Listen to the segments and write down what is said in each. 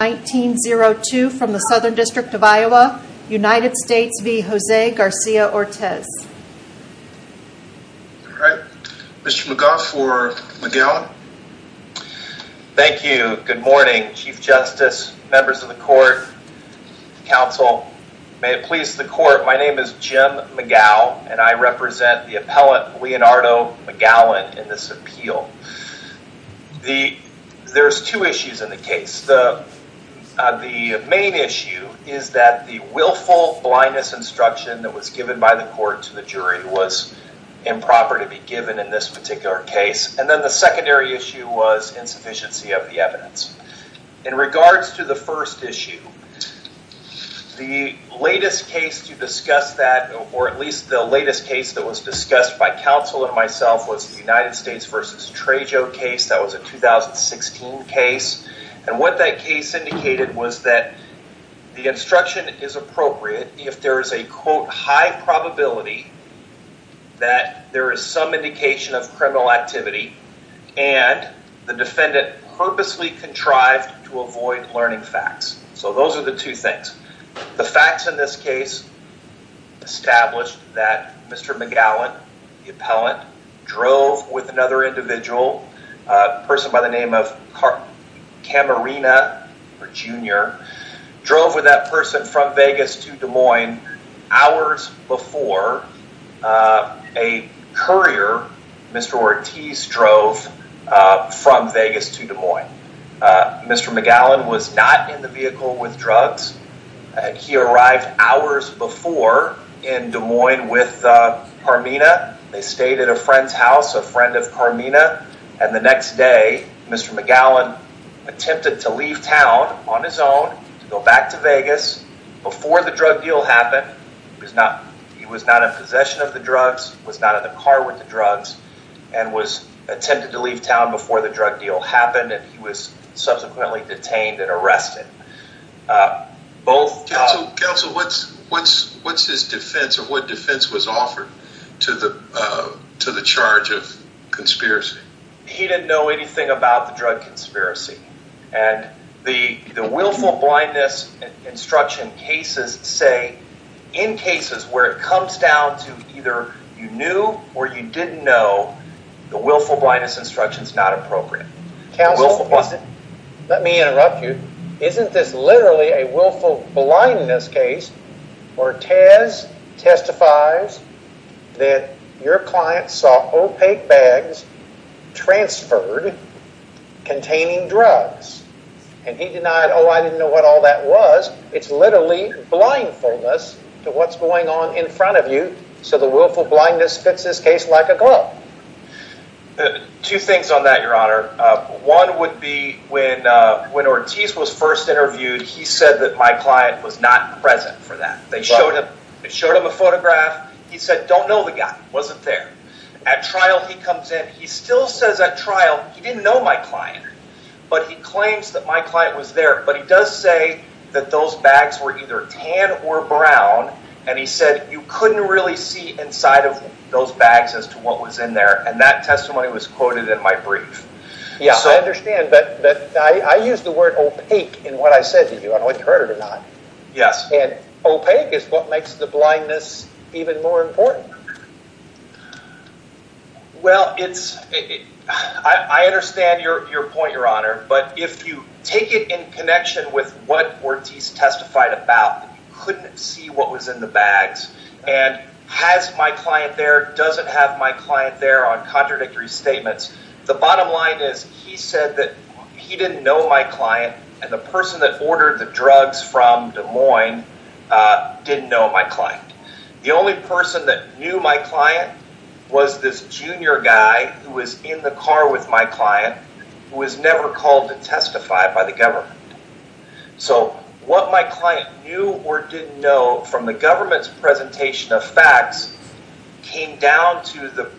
1902 from the Southern District of Iowa, United States v. Jose Garcia-Ortiz. Alright, Mr. McGough for Magallon. Thank you. Good morning, Chief Justice, members of the court, counsel, may it please the court, my name is Jim McGough and I represent the appellant Leonardo Magallon in this appeal. The, there's two issues in the case, the main issue is that the willful blindness instruction that was given by the court to the jury was improper to be given in this particular case and then the secondary issue was insufficiency of the evidence. In regards to the first issue, the latest case to discuss that, or at least the latest case that was discussed by counsel and myself was the United States v. Trejo case that was a 2016 case and what that case indicated was that the instruction is appropriate if there is a quote high probability that there is some indication of criminal activity and the defendant purposely contrived to avoid learning facts. So those are the two things. The facts in this case established that Mr. Magallon, the appellant, drove with another individual, a person by the name of Camarena, Jr., drove with that person from Vegas to Des Moines hours before a courier, Mr. Ortiz, drove from Vegas to Des Moines. Mr. Magallon was not in the vehicle with drugs. He arrived hours before in Des Moines with Camarena. They stayed at a friend's house, a friend of Camarena, and the next day Mr. Magallon attempted to leave town on his own to go back to Vegas before the drug deal happened. He was not in possession of the drugs, was not in the car with the drugs, and was attempting to leave town before the drug deal happened and he was subsequently detained and arrested. Both- Counsel, what's his defense or what defense was offered to the charge of conspiracy? He didn't know anything about the drug conspiracy and the willful blindness instruction cases say in cases where it comes down to either you knew or you didn't know, the willful blindness instruction is not appropriate. Counsel, let me interrupt you. Isn't this literally a willful blindness case where Tez testifies that your client saw opaque bags transferred containing drugs and he denied, oh, I didn't know what all that was. It's literally blindness to what's going on in front of you so the willful blindness fits this case like a glove. Two things on that, your honor. One would be when Ortiz was first interviewed, he said that my client was not present for that. They showed him a photograph, he said, don't know the guy, wasn't there. At trial he comes in, he still says at trial, he didn't know my client, but he claims that my client was there, but he does say that those bags were either tan or brown and he didn't know what was in the bags as to what was in there and that testimony was quoted in my brief. Yeah, I understand, but I use the word opaque in what I said to you, I don't know if you heard it or not. Yes. And opaque is what makes the blindness even more important. Well it's, I understand your point, your honor, but if you take it in connection with what Ortiz testified about, you couldn't see what was in the bags and has my client there, doesn't have my client there on contradictory statements. The bottom line is he said that he didn't know my client and the person that ordered the drugs from Des Moines didn't know my client. The only person that knew my client was this junior guy who was in the car with my client who was never called to testify by the government. So what my client knew or didn't know from the government's presentation of facts came down to the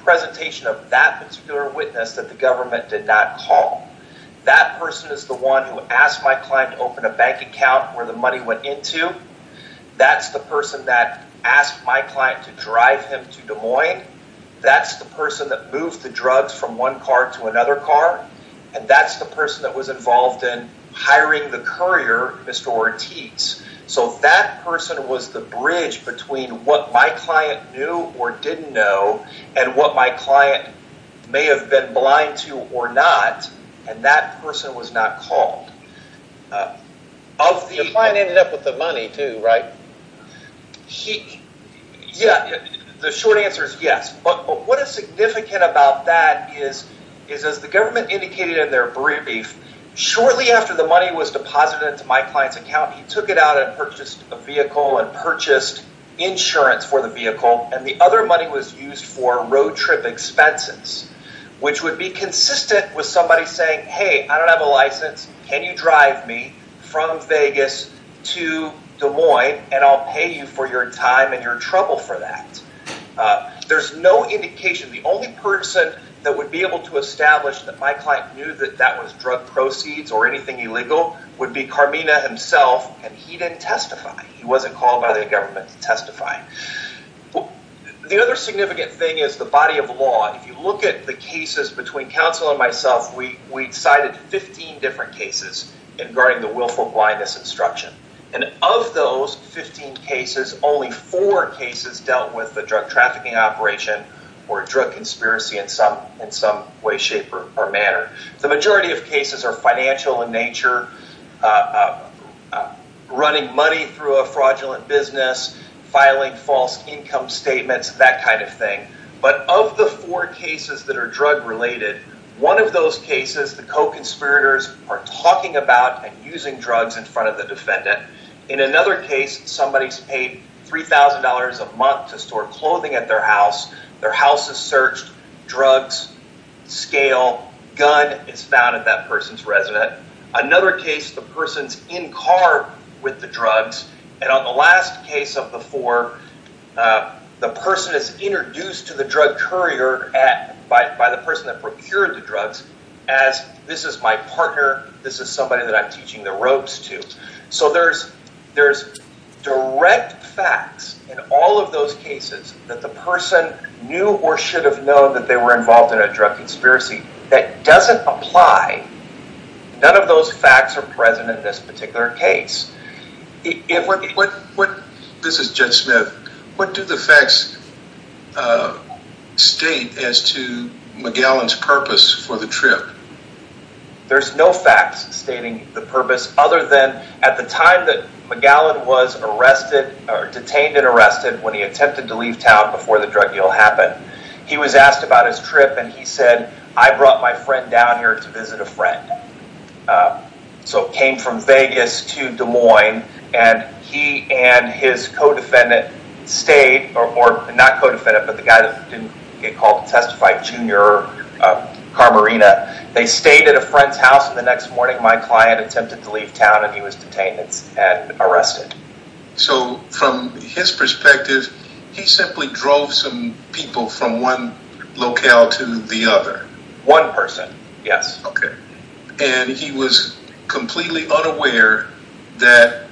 presentation of that particular witness that the government did not call. That person is the one who asked my client to open a bank account where the money went into, that's the person that asked my client to drive him to Des Moines, that's the person that moved the drugs from one car to another car, and that's the person that was involved in hiring the courier, Mr. Ortiz. So that person was the bridge between what my client knew or didn't know and what my client may have been blind to or not, and that person was not called. The client ended up with the money too, right? The short answer is yes, but what is significant about that is as the government indicated in their brief shortly after the money was deposited into my client's account, he took it out and purchased a vehicle and purchased insurance for the vehicle and the other money was used for road trip expenses, which would be consistent with somebody saying, hey, I don't have a license, can you drive me from Vegas to Des Moines and I'll pay you for your time and your trouble for that. There's no indication, the only person that would be able to establish that my client knew that that was drug proceeds or anything illegal would be Carmina himself, and he didn't testify. He wasn't called by the government to testify. The other significant thing is the body of law. If you look at the cases between counsel and myself, we cited 15 different cases regarding the willful blindness instruction, and of those 15 cases, only four cases dealt with The majority of cases are financial in nature, running money through a fraudulent business, filing false income statements, that kind of thing. But of the four cases that are drug related, one of those cases, the co-conspirators are talking about and using drugs in front of the defendant. In another case, somebody's paid $3,000 a month to store clothing at their house. Their house is searched, drugs, scale, gun is found at that person's residence. Another case, the person's in car with the drugs, and on the last case of the four, the person is introduced to the drug courier by the person that procured the drugs as, this is my partner, this is somebody that I'm teaching the ropes to. So there's direct facts in all of those cases that the person knew or should have known that they were involved in a drug conspiracy that doesn't apply, none of those facts are present in this particular case. This is Judge Smith, what do the facts state as to McGowan's purpose for the trip? There's no facts stating the purpose, other than at the time that McGowan was arrested or detained and arrested when he attempted to leave town before the drug deal happened, he was asked about his trip and he said, I brought my friend down here to visit a friend. So came from Vegas to Des Moines and he and his co-defendant stayed, or not co-defendant but the guy that didn't get called to testify, Junior Carmarina, they stayed at a friend's house and the next morning my client attempted to leave town and he was detained and arrested. So from his perspective, he simply drove some people from one locale to the other? One person, yes. Okay. And he was completely unaware that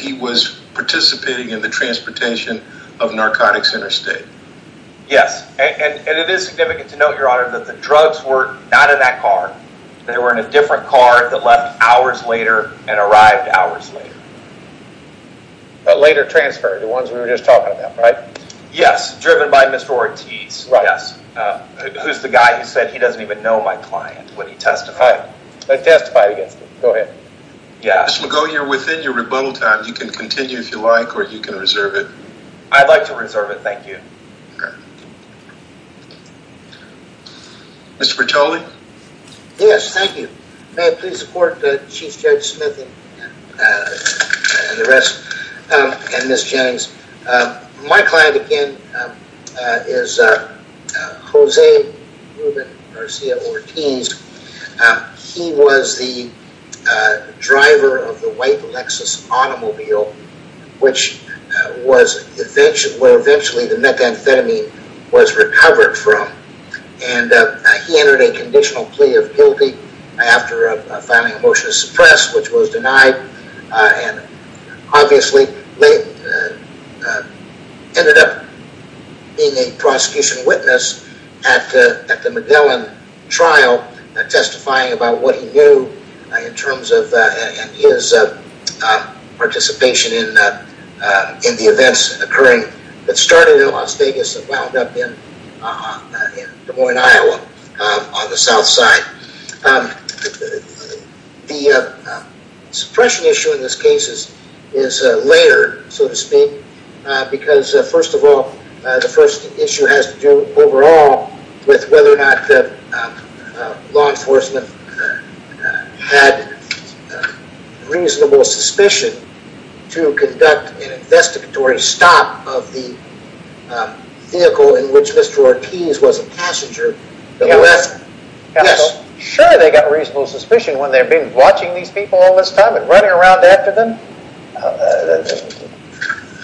he was participating in the transportation of narcotics in his state? Yes. And it is significant to note, your honor, that the drugs were not in that car, they were in a different car that left hours later and arrived hours later. But later transferred, the ones we were just talking about, right? Yes. Driven by Mr. Ortiz. Right. Yes. Who's the guy who said, he doesn't even know my client, when he testified. Testified against him. Go ahead. Yes. Mr. McGowan, you're within your rebuttal time, you can continue if you like or you can reserve it. I'd like to reserve it, thank you. Okay. Mr. Bertoli? Yes, thank you. May I please support Chief Judge Smith and the rest and Ms. Jennings. My client, again, is Jose Ruben Garcia Ortiz. He was the driver of the white Lexus automobile, which was where eventually the methamphetamine was recovered from. And he entered a conditional plea of guilty after filing a motion to suppress, which was denied. And obviously ended up being a prosecution witness at the McGowan trial, testifying about what he knew in terms of his participation in the events occurring that started in Las Vegas and wound up in Des Moines, Iowa on the south side. The suppression issue in this case is layered, so to speak, because first of all, the first issue has to do overall with whether or not the law enforcement had reasonable suspicion to conduct an investigatory stop of the vehicle in which Mr. Ortiz was a passenger. Yes. So, sure they got reasonable suspicion when they've been watching these people all this time and running around after them.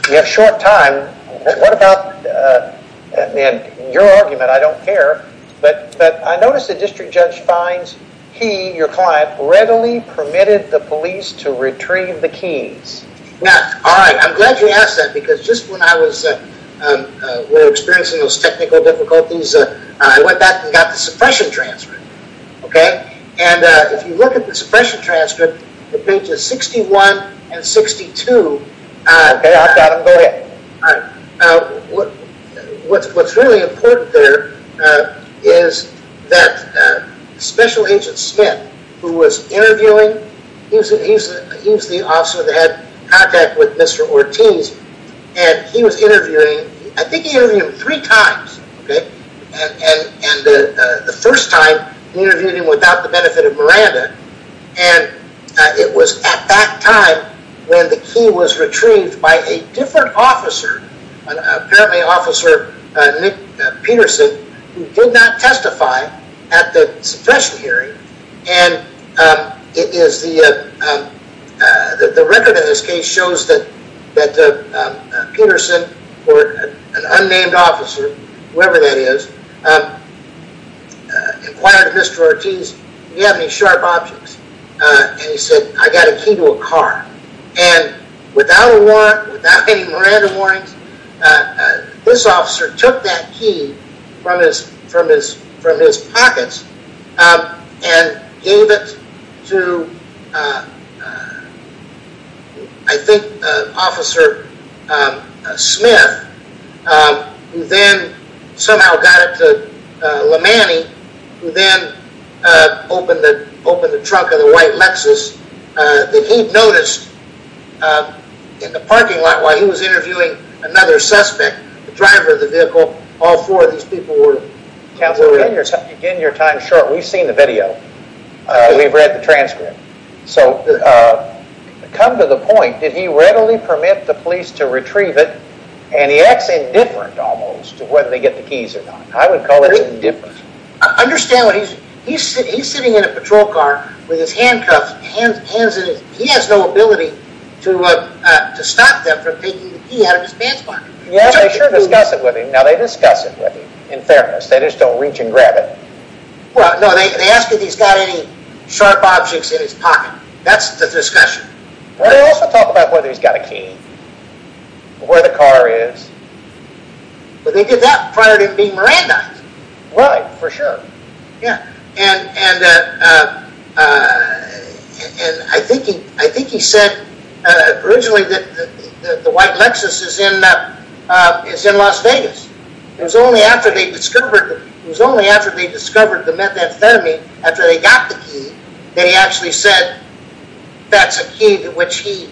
We have short time. What about, and your argument, I don't care, but I noticed the district judge finds he, your client, readily permitted the police to retrieve the keys. All right, I'm glad you asked that because just when I was experiencing those technical difficulties, I went back and got the suppression transcript. And if you look at the suppression transcript, the pages 61 and 62, what's really important there is that Special Agent Smith, who was interviewing, he was the officer that had contact with Mr. Ortiz, and he was interviewing, I think he interviewed him three times, okay? And the first time, he interviewed him without the benefit of Miranda. And it was at that time when the key was retrieved by a different officer, an apparently officer, Nick Peterson, who did not testify at the suppression hearing. And it is the, the record in this case shows that Peterson, or an unnamed officer, whoever that is, inquired Mr. Ortiz, do you have any sharp objects? And he said, I got a key to a car. And without a warrant, without any Miranda warrants, this officer took that key from his pockets and gave it to, I think, Officer Smith, who then somehow got it to LeManny, who then opened the trunk of the white Lexus that he'd noticed in the parking lot while he was interviewing another suspect, the driver of the vehicle. So, all four of these people were... Counselor, you're getting your time short. We've seen the video. We've read the transcript. So, come to the point, did he readily permit the police to retrieve it, and he acts indifferent almost to whether they get the keys or not. I would call it indifferent. Understand what he's... He's sitting in a patrol car with his handcuffs, hands in his... He has no ability to stop them from taking the key out of his pants pocket. Yeah, they sure discuss it with him. Now, they discuss it with him, in fairness. They just don't reach and grab it. Well, no, they ask if he's got any sharp objects in his pocket. That's the discussion. They also talk about whether he's got a key, where the car is. Well, they did that prior to him being Mirandized. Right, for sure. Yeah. And I think he said originally that the white Lexus is in Las Vegas. It was only after they discovered the methamphetamine, after they got the key, that he actually said that's a key to which he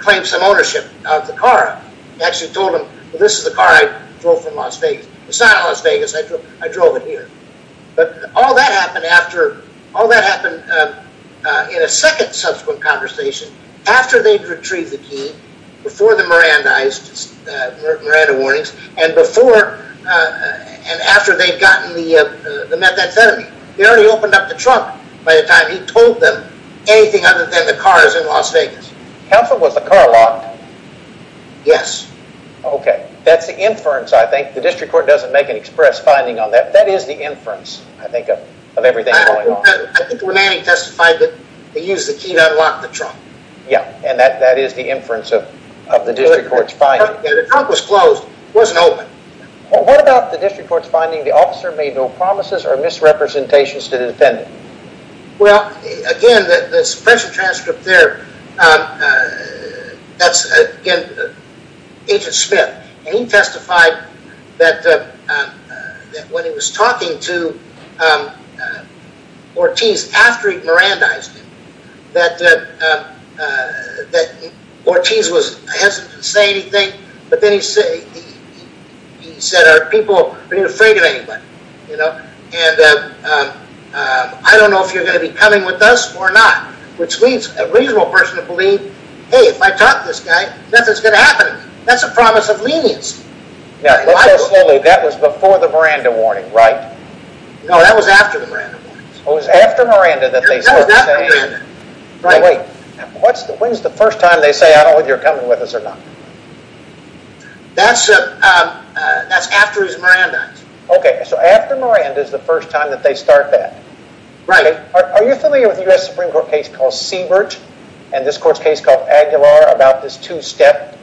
claimed some ownership of the car. He actually told him, this is the car I drove from Las Vegas. It's not Las Vegas. I drove it here. But all that happened in a second subsequent conversation, after they'd retrieved the key, before the Mirandized, Miranda warnings, and after they'd gotten the methamphetamine. He already opened up the trunk by the time he told them anything other than the car is in Las Vegas. Counsel, was the car locked? Yes. Okay, that's the inference, I think. The district court doesn't make an express finding on that. That is the inference, I think, of everything going on. I think when Manning testified that he used the key to unlock the trunk. Yeah, and that is the inference of the district court's finding. The trunk was closed. It wasn't open. What about the district court's finding? The officer made no promises or misrepresentations to the defendant. Well, again, the suppression transcript there, that's, again, Agent Smith. He testified that when he was talking to Ortiz after he'd Mirandized him, that Ortiz was hesitant to say anything, but then he said, are people afraid of anybody? And I don't know if you're going to be coming with us or not, which means a reasonable person would believe, hey, if I talk to this guy, nothing's going to happen. That's a promise of leniency. Now, let's go slowly. That was before the Miranda warning, right? No, that was after the Miranda warning. Oh, it was after Miranda that they started saying... That was after Miranda. Wait, when's the first time they say, I don't know if you're coming with us or not? That's after he's Mirandized. Okay, so after Miranda is the first time that they start that. Right. Are you familiar with a U.S. Supreme Court case called Siebert and this court's case called Aguilar about this two-step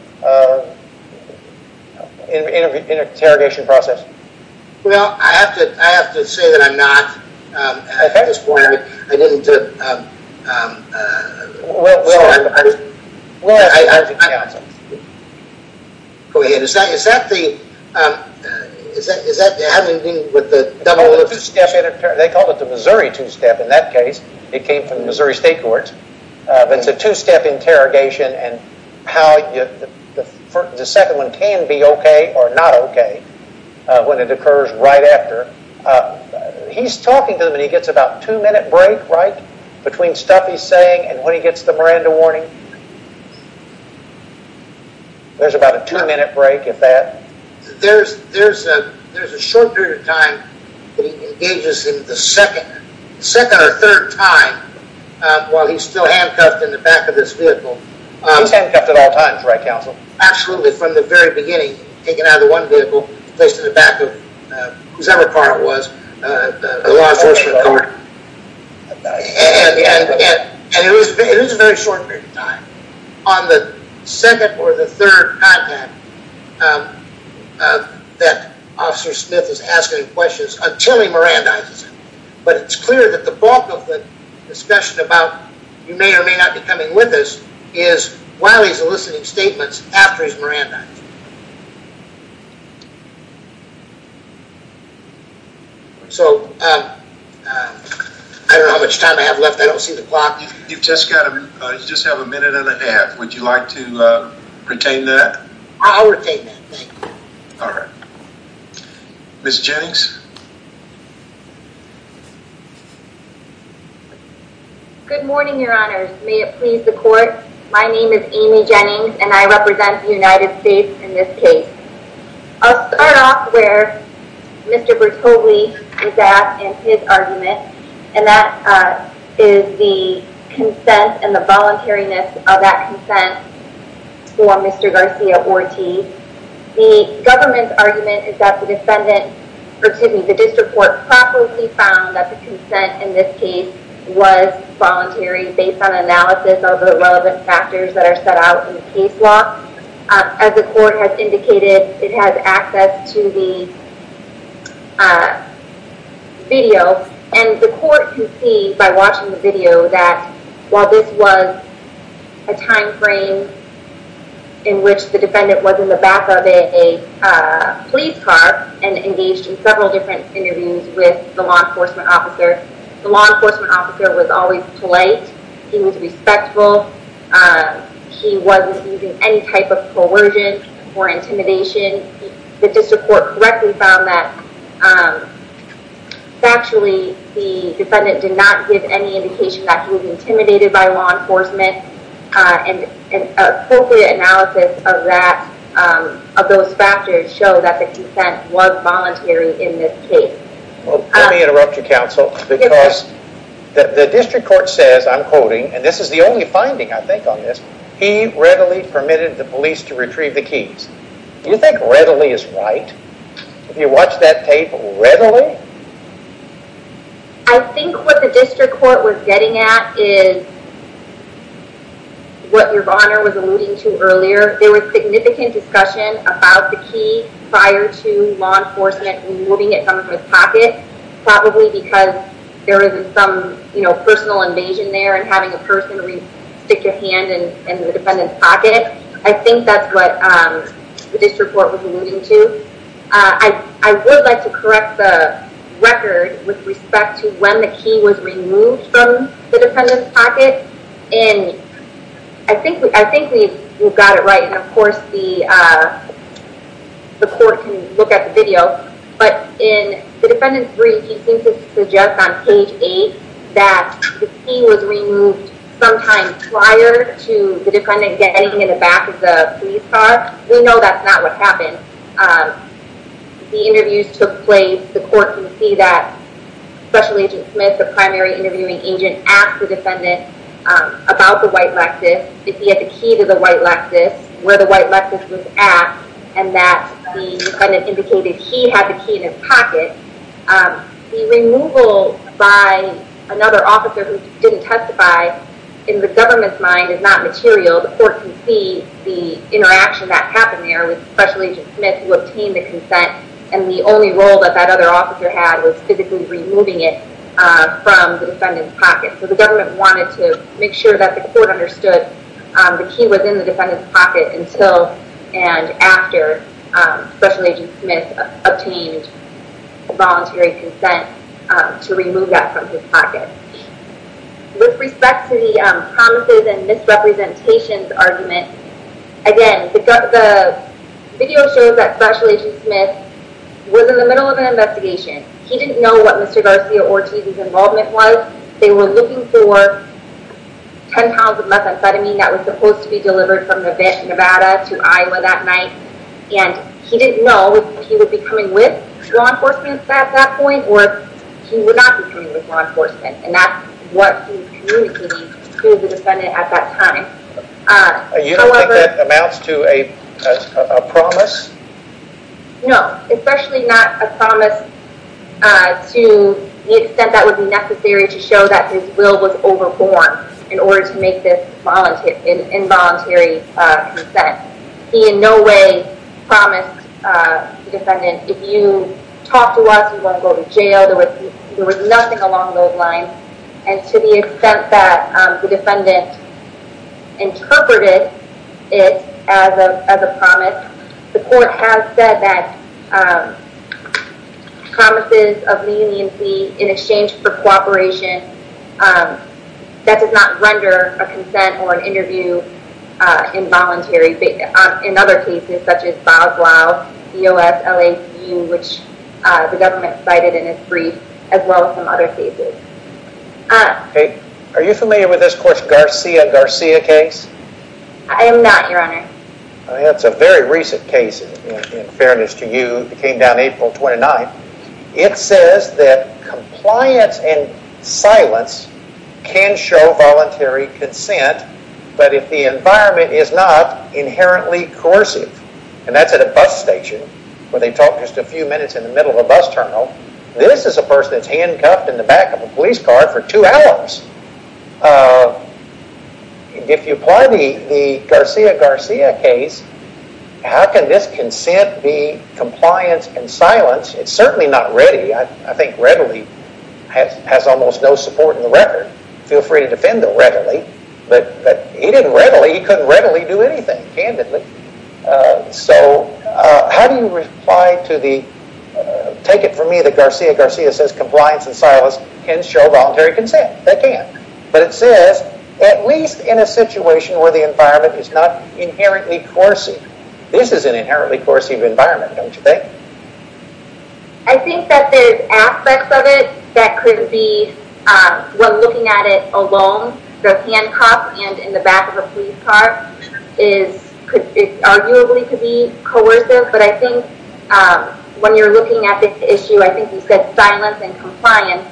interrogation process? Well, I have to say that I'm not. At this point, I didn't... Well, I... I... Go ahead. Is that the... Is that having to do with the double... They called it the Missouri two-step in that case. It came from the Missouri State Courts. It's a two-step interrogation and how the second one can be okay or not okay when it occurs right after. He's talking to them and he gets about a two-minute break, right? Between stuff he's saying and when he gets the Miranda warning. There's about a two-minute break at that. There's a short period of time that he engages in the second or third time while he's still handcuffed in the back of this vehicle. He's handcuffed at all times, right, counsel? Absolutely, from the very beginning. Taken out of the one vehicle, placed in the back of whosoever car it was. The law enforcement car. And it was a very short period of time. On the second or the third contact that Officer Smith is asking questions until he Mirandizes him. But it's clear that the bulk of the discussion about you may or may not be coming with us is while he's eliciting statements after he's Mirandized. So, I don't know how much time I have left. I don't see the clock. You just have a minute and a half. Would you like to retain that? I'll retain that, thank you. All right. Ms. Jennings? Good morning, your honors. May it please the court. My name is Amy Jennings and I represent the United States in this case. I'll start off where Mr. Bertoli is at in his argument. And that is the consent and the voluntariness of that consent for Mr. Garcia-Ortiz. The government's argument is that the defendant, excuse me, the district court properly found that the consent in this case was voluntary based on analysis of the relevant factors that are set out in the case law. As the court has indicated, it has access to the video. And the court can see by watching the video that while this was a time frame in which the defendant was in the back of a police car and engaged in several different interviews with the law enforcement officer, the law enforcement officer was always polite. He was respectful. He wasn't using any type of coercion or intimidation. The district court correctly found that factually the defendant did not give any indication that he was intimidated by law enforcement and appropriate analysis of that, of those factors show that the consent was voluntary in this case. Let me interrupt you counsel, because the district court says, I'm quoting, and this is the only finding I think on this, he readily permitted the police to retrieve the keys. Do you think readily is right? Have you watched that tape readily? I think what the district court was getting at is what your honor was alluding to earlier. There was significant discussion about the key prior to law enforcement removing it from his pocket, probably because there was some personal invasion there and having a person stick a hand in the defendant's pocket. I think that's what the district court was alluding to. I would like to correct the record with respect to when the key was removed from the defendant's pocket and I think we've got it right and of course the court can look at the video, but in the defendant's brief he seems to suggest on page 8 that the key was removed sometime prior to the defendant getting in the back of the police car. We know that's not what happened. The interviews took place, the court can see that Special Agent Smith, the primary interviewing agent, asked the defendant about the white Lexus, if he had the key to the white Lexus, where the white Lexus was at, and that the defendant indicated he had the key in his pocket. The removal by another officer who didn't testify in the government's mind is not material. The court can see the interaction that happened there with Special Agent Smith who obtained the consent and the only role that that other officer had was physically removing it from the defendant's pocket. So the government wanted to make sure that the court understood the key was in the defendant's pocket until and after Special Agent Smith obtained voluntary consent to remove that from his pocket. With respect to the promises and misrepresentations argument, again, the video shows that Special Agent Smith was in the middle of an investigation. He didn't know what Mr. Garcia-Ortiz's involvement was. They were looking for 10 pounds of methamphetamine that was supposed to be delivered from Nevada to Iowa that night, and he didn't know if he would be coming with law enforcement at that point or if he would not be coming with law enforcement, and that's what he was communicating to the defendant at that time. You don't think that amounts to a promise? No, especially not a promise to the extent that would be necessary to show that his will was overborne in order to make this involuntary consent. He in no way promised the defendant, if you talk to us, you won't go to jail. There was nothing along those lines, and to the extent that the defendant interpreted it as a promise, the court has said that promises of leniency in exchange for cooperation, that does not render a consent or an interview involuntary in other cases such as Bob Glau, EOS, LACU, which the government cited in its brief, as well as some other cases. Are you familiar with this Garcia-Garcia case? I am not, your honor. That's a very recent case in fairness to you. It came down April 29th. It says that compliance and silence can show voluntary consent, but if the environment is not inherently coercive, and that's at a bus station where they talk just a few minutes in the middle of a bus terminal, this is a person that's handcuffed in the back of a police car for two hours. If you apply the Garcia-Garcia case, how can this consent be compliance and silence? It's certainly not ready. I think readily has almost no support in the record. Feel free to defend it readily, but he didn't readily, he couldn't readily do anything, candidly. So how do you reply to the, take it from me that Garcia-Garcia says compliance and silence can show voluntary consent. But it says, at least in a situation where the environment is not inherently coercive. This is an inherently coercive environment, don't you think? I think that there's aspects of it that could be, when looking at it alone, the handcuff and in the back of a police car is arguably could be coercive, but I think when you're looking at this issue, I think you said silence and compliance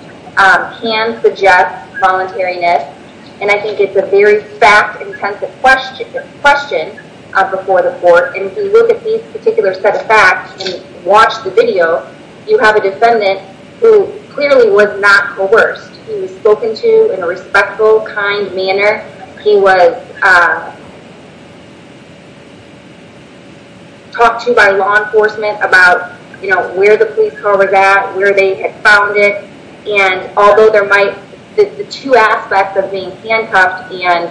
can suggest voluntariness. And I think it's a very fact-intensive question before the court. And if you look at these particular set of facts and watch the video, you have a defendant who clearly was not coerced. He was spoken to in a respectful, kind manner. He was talked to by law enforcement about where the police car was at, where they had found it. And although there might, the two aspects of being handcuffed and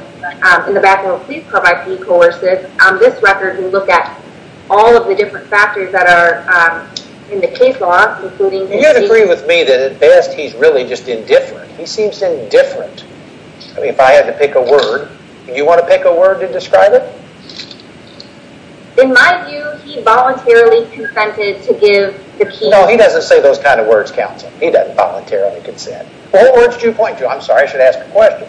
in the back of a police car might be coercive, on this record, you look at all of the different factors that are in the case law, including... You'd agree with me that at best he's really just indifferent. He seems indifferent. I mean, if I had to pick a word, In my view, he voluntarily consented to give the key... No, he doesn't say those kinds of words, counsel. He doesn't voluntarily consent. What words do you point to? I'm sorry, I should ask a question.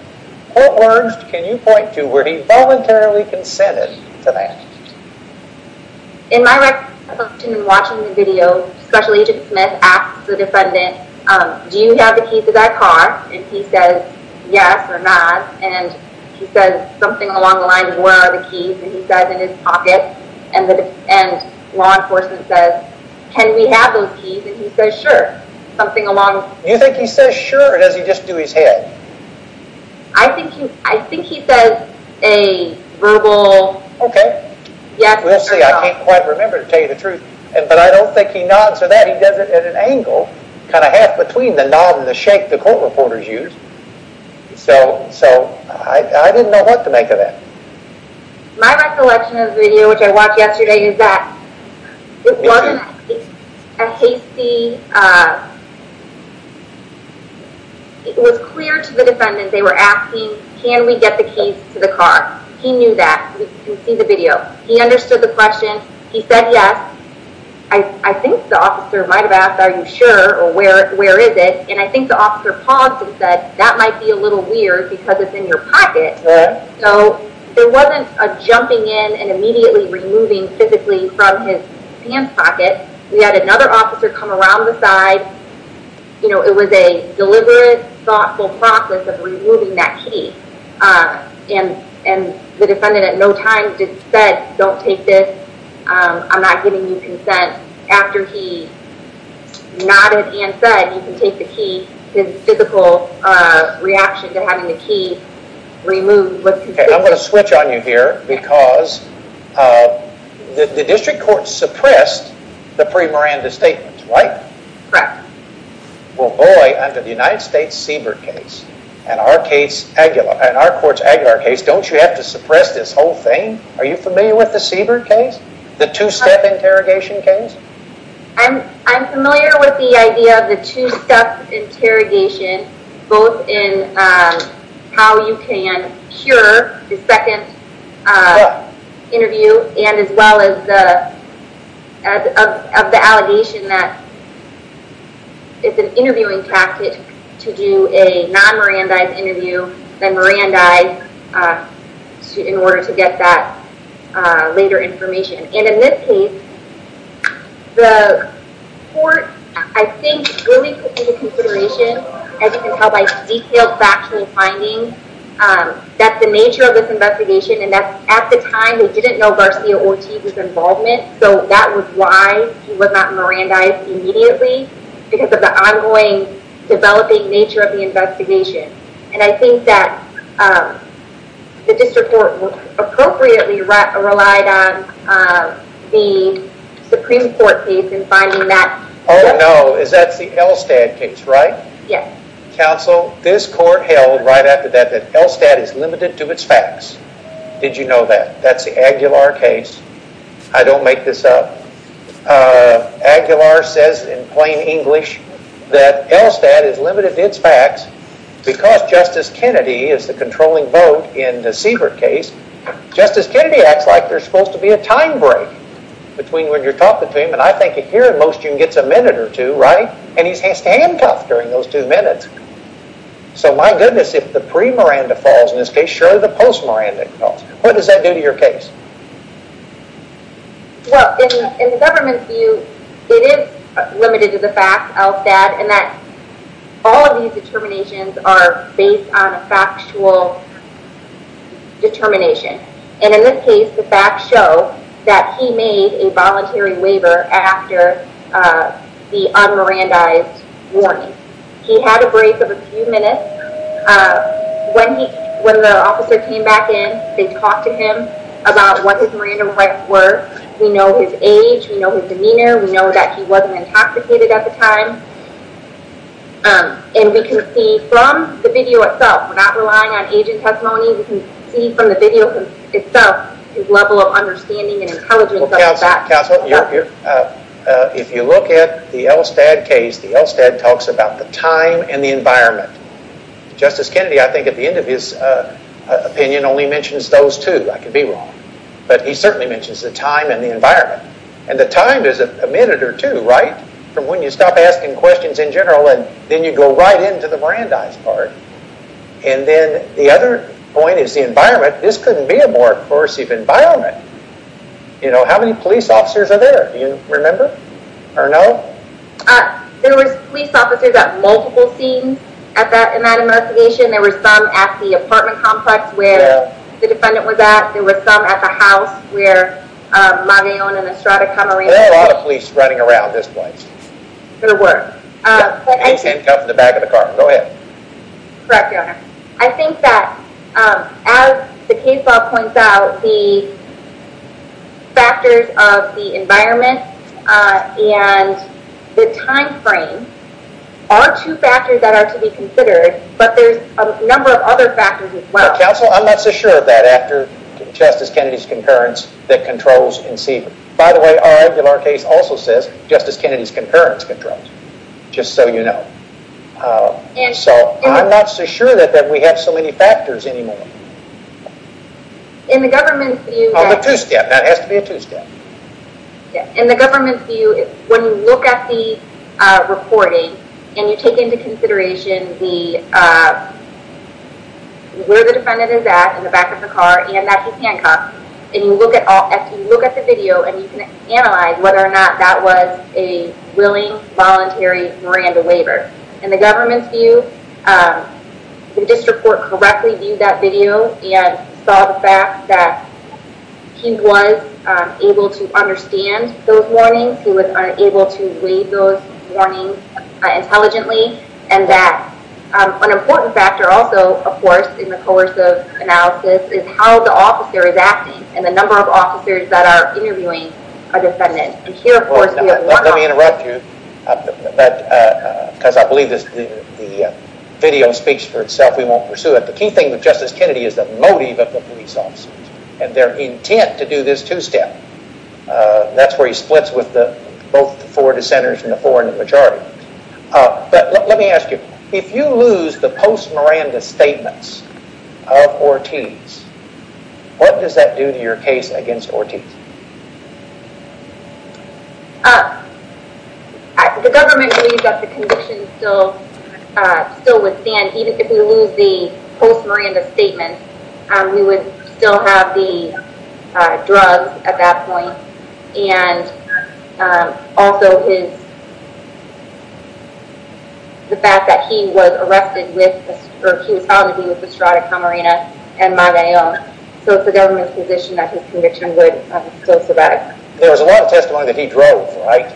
What words can you point to where he voluntarily consented to that? In my recollection, in watching the video, Special Agent Smith asked the defendant, do you have the keys to that car? And he says, yes or no. And he says something along the lines of where are the keys? And he says in his pocket. And law enforcement says, do you have the keys? And he says, sure. You think he says sure or does he just do his head? I think he says a verbal yes or no. Okay. We'll see. I can't quite remember to tell you the truth. But I don't think he nods or that. He does it at an angle, kind of half between the nod and the shake the court reporters use. So I didn't know what to make of that. My recollection of the video which I watched yesterday was clear to the defendant. They were asking, can we get the keys to the car? He knew that. We can see the video. He understood the question. He said, yes. I think the officer might have asked, are you sure? Or where is it? And I think the officer paused and said that might be a little weird because it's in your pocket. So there wasn't a jumping in and immediately removing physically to come around the side. It was a deliberate, thoughtful process of removing that key. And the defendant at no time just said, don't take this. I'm not giving you consent. After he nodded and said, you can take the key, his physical reaction to having the key removed was consistent. I'm going to switch on you here because the district court suppressed the pre-Miranda statement. Right? Well, boy, under the United States Seabird case, and our case, and our court's Aguilar case, don't you have to suppress this whole thing? Are you familiar with the Seabird case? The two-step interrogation case? I'm familiar with the idea of the two-step interrogation both in how you can cure the second interview and as well as the of the allegation that it's an interviewing tactic to do a non-Mirandized interview than Mirandized in order to get that later information. And in this case, the court, I think, really took into consideration, as you can tell by detailed factual findings, that the nature of this investigation and that at the time they didn't know Garcia Ortiz's involvement so that was why he was not Mirandized immediately because of the ongoing developing nature of the investigation. And I think that the district court appropriately relied on the Supreme Court case in finding that. Oh no, that's the Elstad case, right? Yes. Counsel, this court held right after that that Elstad is limited to its facts. Did you know that? That's the Aguilar case. I don't make this up. Aguilar says in plain English that Elstad is limited to its facts because Justice Kennedy is the controlling vote in the Siebert case. Justice Kennedy acts like there's supposed to be a time break between when you're talking to him and I think a hearing motion gets a minute or two, right? And he's handcuffed during those two minutes. So my goodness if the pre-Miranda falls in this case, surely the post-Miranda falls. What does that do to your case? Well, in the government's view it is limited to the facts, Elstad and that all of these determinations are based on a factual determination. And in this case the facts show that he made a voluntary waiver after the un-Mirandized warning. He had a break of a few minutes. When the officer came back in they talked to him about what his Miranda rights were. We know his age. We know his demeanor. We know that he wasn't intoxicated at the time. And we can see from the video itself we're not relying on agent testimony we can see from the video itself his level of understanding and intelligence of the facts. Counsel, if you look at the Elstad case the Elstad talks about the time and the environment. Justice Kennedy, I think, at the end of his opinion only mentions those two. I could be wrong. But he certainly mentions the time and the environment. And the time is a minute or two, right, from when you stop asking questions in general and then you go right into the Mirandized part. And then the other point is the environment. This couldn't be a more coercive environment. How many police officers are there? Do you remember? Or no? There were police officers at multiple scenes in that investigation. There were some at the apartment complex where the defendant was at. There were some at the house where Magallon and Estrada Camarena were. There are a lot of police running around this place. There were. Go ahead. Correct, Your Honor. I think that as the case law points out the factors of the environment and the time frame are two factors that are to be considered but there's a number of other factors as well. Counsel, I'm not so sure that after Justice Kennedy's concurrence that controls By the way, our regular case also says Justice Kennedy's concurrence controls. Just so you know. I'm not so sure that we have so many factors anymore. In the government's view Oh, the two-step. That has to be a two-step. In the government's view when you look at the reporting and you take into consideration where the defendant is at in the back of the car and that he handcuffed and you look at all if you look at the video and you can analyze whether or not that was a willing voluntary Miranda waiver. In the government's view the district court correctly viewed that video and saw the fact that he was able to understand those warnings. He was able to read those warnings intelligently and that an important factor also of course in the coercive analysis is how the officer is acting and the number of officers that are interviewing a defendant. Let me interrupt you because I believe the video speaks for itself. We won't pursue it. The key thing with Justice Kennedy is the motive of the police officers and their intent to do this two-step. That's where he splits with both the four dissenters and the four in the majority. Let me ask you if you lose the post-Miranda statements of Ortiz what does that do to your case against Ortiz? The government believes that the condition still would stand even if we lose the post-Miranda statements we would still have the drugs at that point and also his the fact that he was arrested with he was found to be with Estrada Camarena and Magallon so it's the government's position that his conviction would still survive. There was a lot of testimony that he drove, right?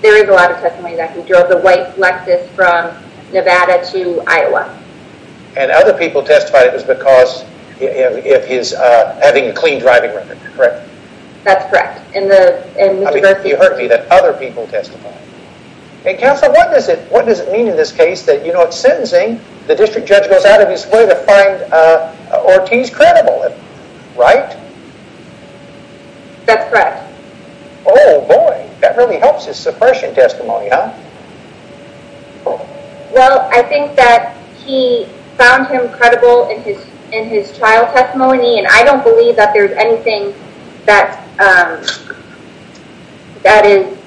There is a lot of testimony that he drove. The white Lexus from Nevada to Iowa. And other people testified it was because of his having a clean driving record, correct? That's correct. You heard me, that other people testified. And Counselor, what does it mean in this case that you know it's sentencing the district judge goes out of his way to find Ortiz credible, right? That's correct. Oh boy, that really helps his suppression testimony, huh? Well, I think that he found him credible in his trial testimony and I don't believe that there's anything that um that is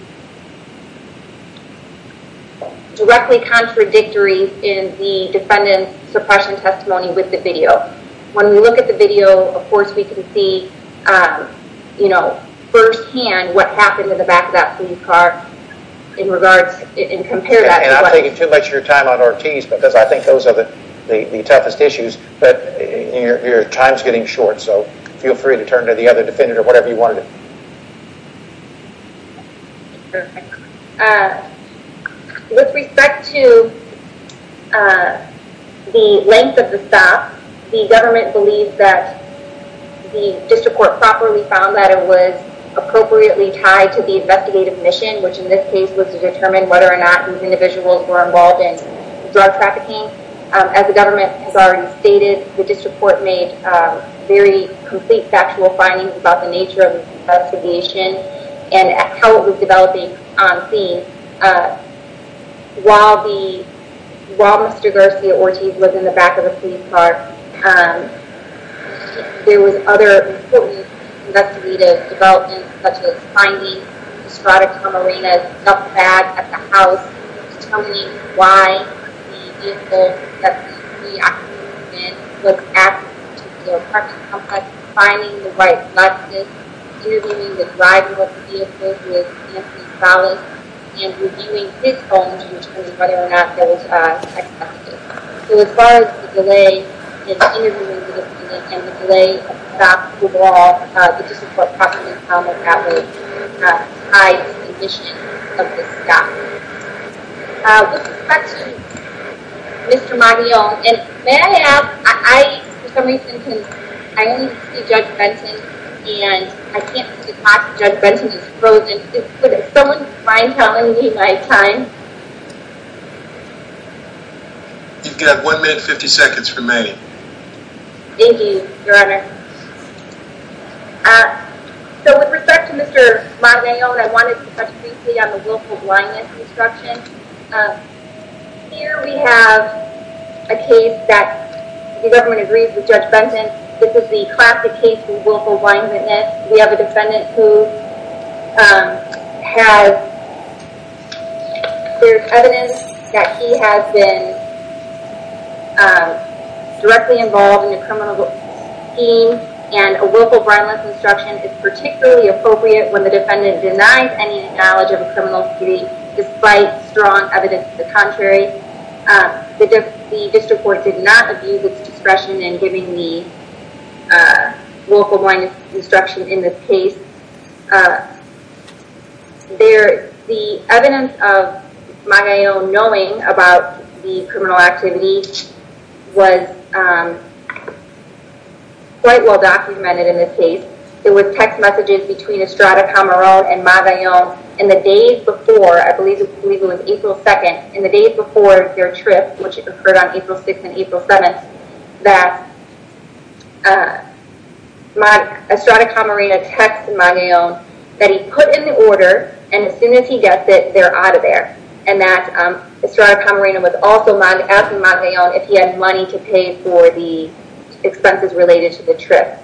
directly contradictory in the defendant's suppression testimony with the video. When we look at the video of course we can see you know first hand what happened in the back of that police car in regards and compare that to what And I'm taking too much of your time on Ortiz because I think those are the toughest issues but your time's getting short so feel free to turn to the other defendant or whatever you want to do. Perfect. Uh with respect to uh the length of the stop the government believes that the district court properly found that it was appropriately tied to the investigative mission which in this case was to determine whether or not these individuals were involved in drug trafficking. As the government has already stated the district court made very complete factual findings about the nature of the investigation and how it was developing on scene. Uh while the while Mr. Garcia Ortiz was in the back of the police car um there was other important investigative developments such as finding Estrada Camarena's stuff bag at the house determining why the vehicle that the occupant was asking to the apartment complex finding the right license interviewing the driver of the vehicle who was Anthony Salas and reviewing his phone to determine whether or not there was uh excessive use. So as far as the delay in interviewing the defendant and the delay of the stop overall the district court possibly found that it was tied to the the case complex was in the vehicle that the defendant was asking to the apartment complex to determine if the vehicle was being used for that purpose. The government agrees with Judge Benson. This is the classic case of willful blindness. We have a defendant who has cleared evidence that he has been directly involved in a criminal scheme and a willful violence instruction is particularly appropriate when the defendant denies any knowledge of a criminal case despite strong evidence to the contrary. The district court did not abuse its discretion in giving the willful blindness instruction in this case. The evidence of Magallo knowing about the criminal activity was quite well documented in this case. There were text messages between Estrada and Magallo in the days before I believe it was April 2nd in the days before their trip which occurred on April 6th and April 7th that Estrada Camarena text Magallo that he put in the order and as soon as he gets it they're out of there and that Estrada Camarena was also asking Magallo if he had money to pay for the expenses related to the trip.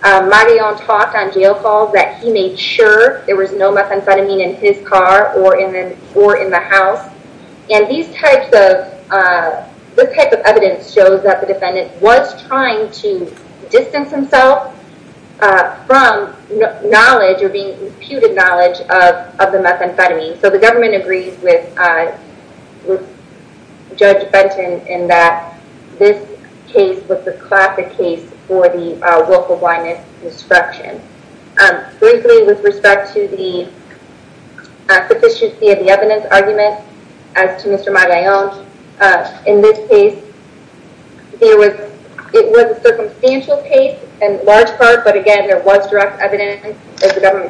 Magallo talked on jail calls that he made sure there was no methamphetamine in his car or in the house and this type of evidence shows that the defendant was trying to distance himself from knowledge or being imputed knowledge of the methamphetamine. So the government agrees with Judge Magallo was distracting himself from the local blindness instruction. With respect to the evidence argument as to Mr. Magallo in this case it was a circumstantial case in large part but again there was direct evidence as the testimony that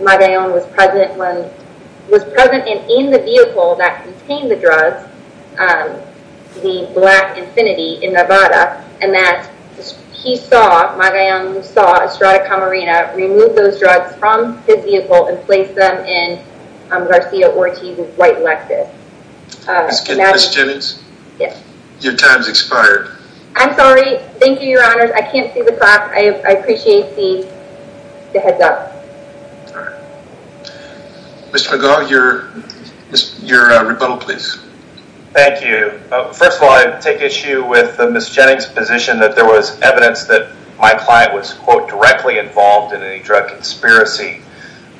Magallo was present in the vehicle that contained the drugs the black infinity in Nevada and that he saw Magallo removed those drugs from his vehicle and I appreciate the heads up. Alright. Mr. Magallo your rebuttal please. Thank you. First of all I take issue with Ms. Jennings position that there was evidence that my client was quote directly involved in any drug conspiracy.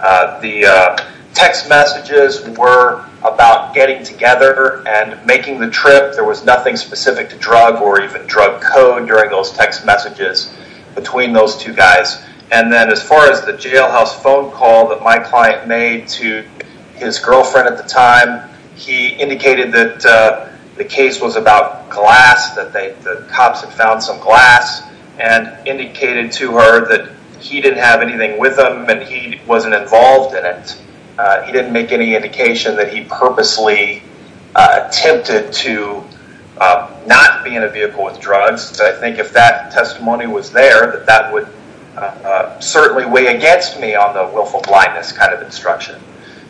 The text messages were about getting together and making the trip. There was nothing specific to drug or even drug code during those text messages between those two guys and then as far as the jailhouse phone call that my client made to his girlfriend at the time he indicated that the case was about glass that the cops had found some glass and indicated to her that he didn't have anything with him and he wasn't involved in it. He didn't make any indication that he purposely attempted to not be in a vehicle with drugs. I think if that testimony was there that would certainly weigh against me on the willful blindness kind of instruction.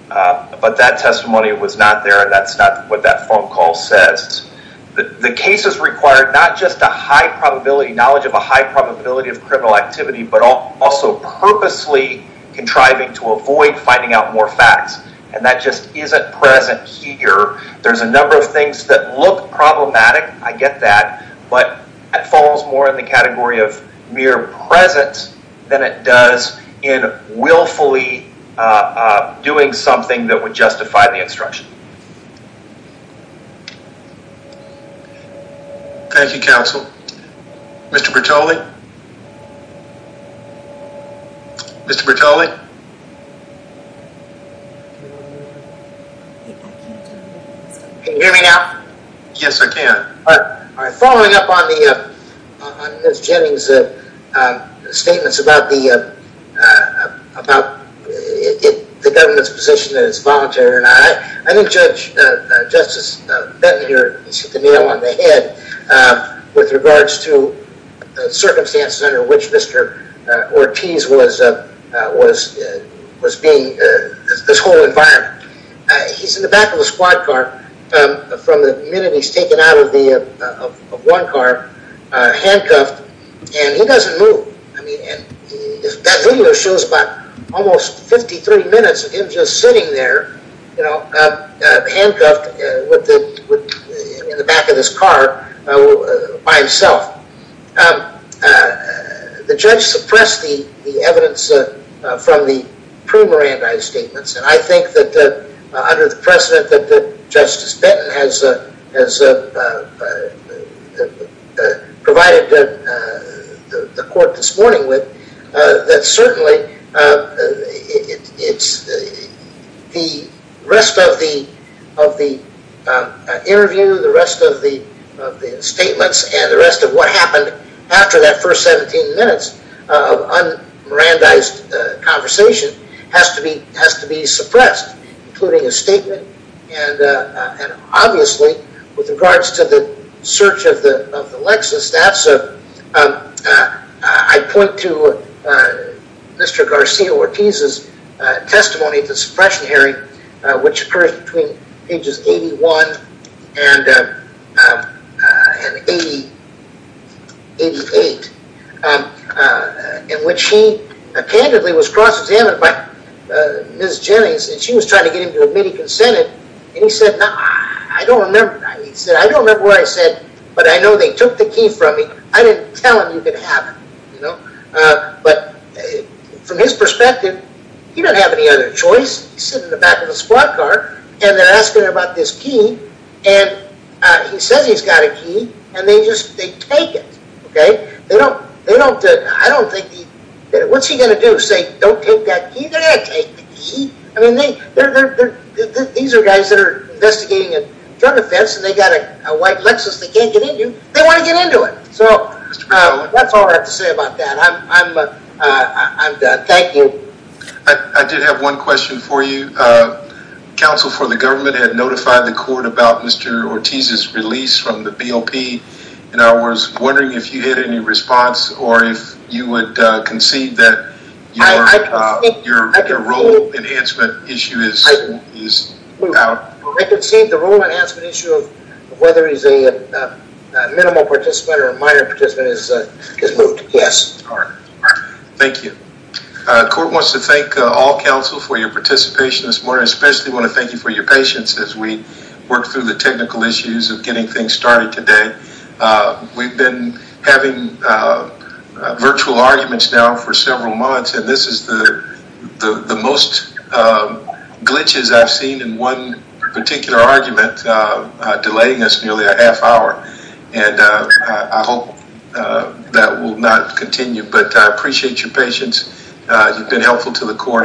But that testimony was not there and that's not what that phone call says. The case is required not just a high probability knowledge of a high probability of criminal activity but also purposely contriving to avoid finding out more facts and that just isn't present here. There's a number of things that look problematic I get that but it falls more in the category of mere presence than it does in willfully doing something that would to do. Thank you counsel. Mr. Bertoli? Mr. Bertoli? Can you hear me now? Yes I can. Following up about the government's position that it's voluntary I think Judge Justice Bertoli I think the government is in a position to clear understanding of the situation and the circumstances under which Mr. Ortiz was being this whole environment. He's in the back of the squad car from the minute he's taken out of one car handcuffed and he doesn't move. That video shows about almost 53 minutes of him just sitting there handcuffed in the back of this car by himself. The judge suppressed the evidence from the pre-Mirandi statements and I think under the precedent that Justice Benton has provided the court this morning with, that certainly it's the rest of the interview, the rest of the statements and the rest of what happened after that first 17 minutes of un-Mirandized conversation has to be suppressed including a statement and obviously with regards to the search of the Lexus, I point to Mr. Garcia-Ortiz's testimony of the suppression hearing which occurred between pages 81 and 88 in which he candidly was cross-examined by Ms. Jennings and she was trying to get him to admit he consented and he said, I don't remember what I said, but I know they took the key from me. I didn't tell him you could have it. But from his perspective he didn't have any other choice. He was sitting in the back of the squad car and they were asking him about this key and he said he's got a key and they take it. What's he going to do? Say don't take that key? These are guys that are investigating a drug offense and they've got a white Lexus they can't get into. They want to get into it. That's all I have to say about that. Thank you. I did have one question for you. Counsel for the government had notified the court about Mr. Ortiz's release from the BOP. I was wondering if you had any response or if you would concede that your role enhancement issue is out. I concede the role enhancement issue of whether he's a minimum participant or a minor participant is moved. Yes. Thank you. The court wants to thank all counsel for your participation this morning. I especially want to thank you for your patience as we work through the technical issues of getting things started today. We've been having virtual arguments now for several months and this is the most glitches I've seen in one particular argument delaying us nearly a half hour. will not continue, but I appreciate your patience. You've been helpful to the court.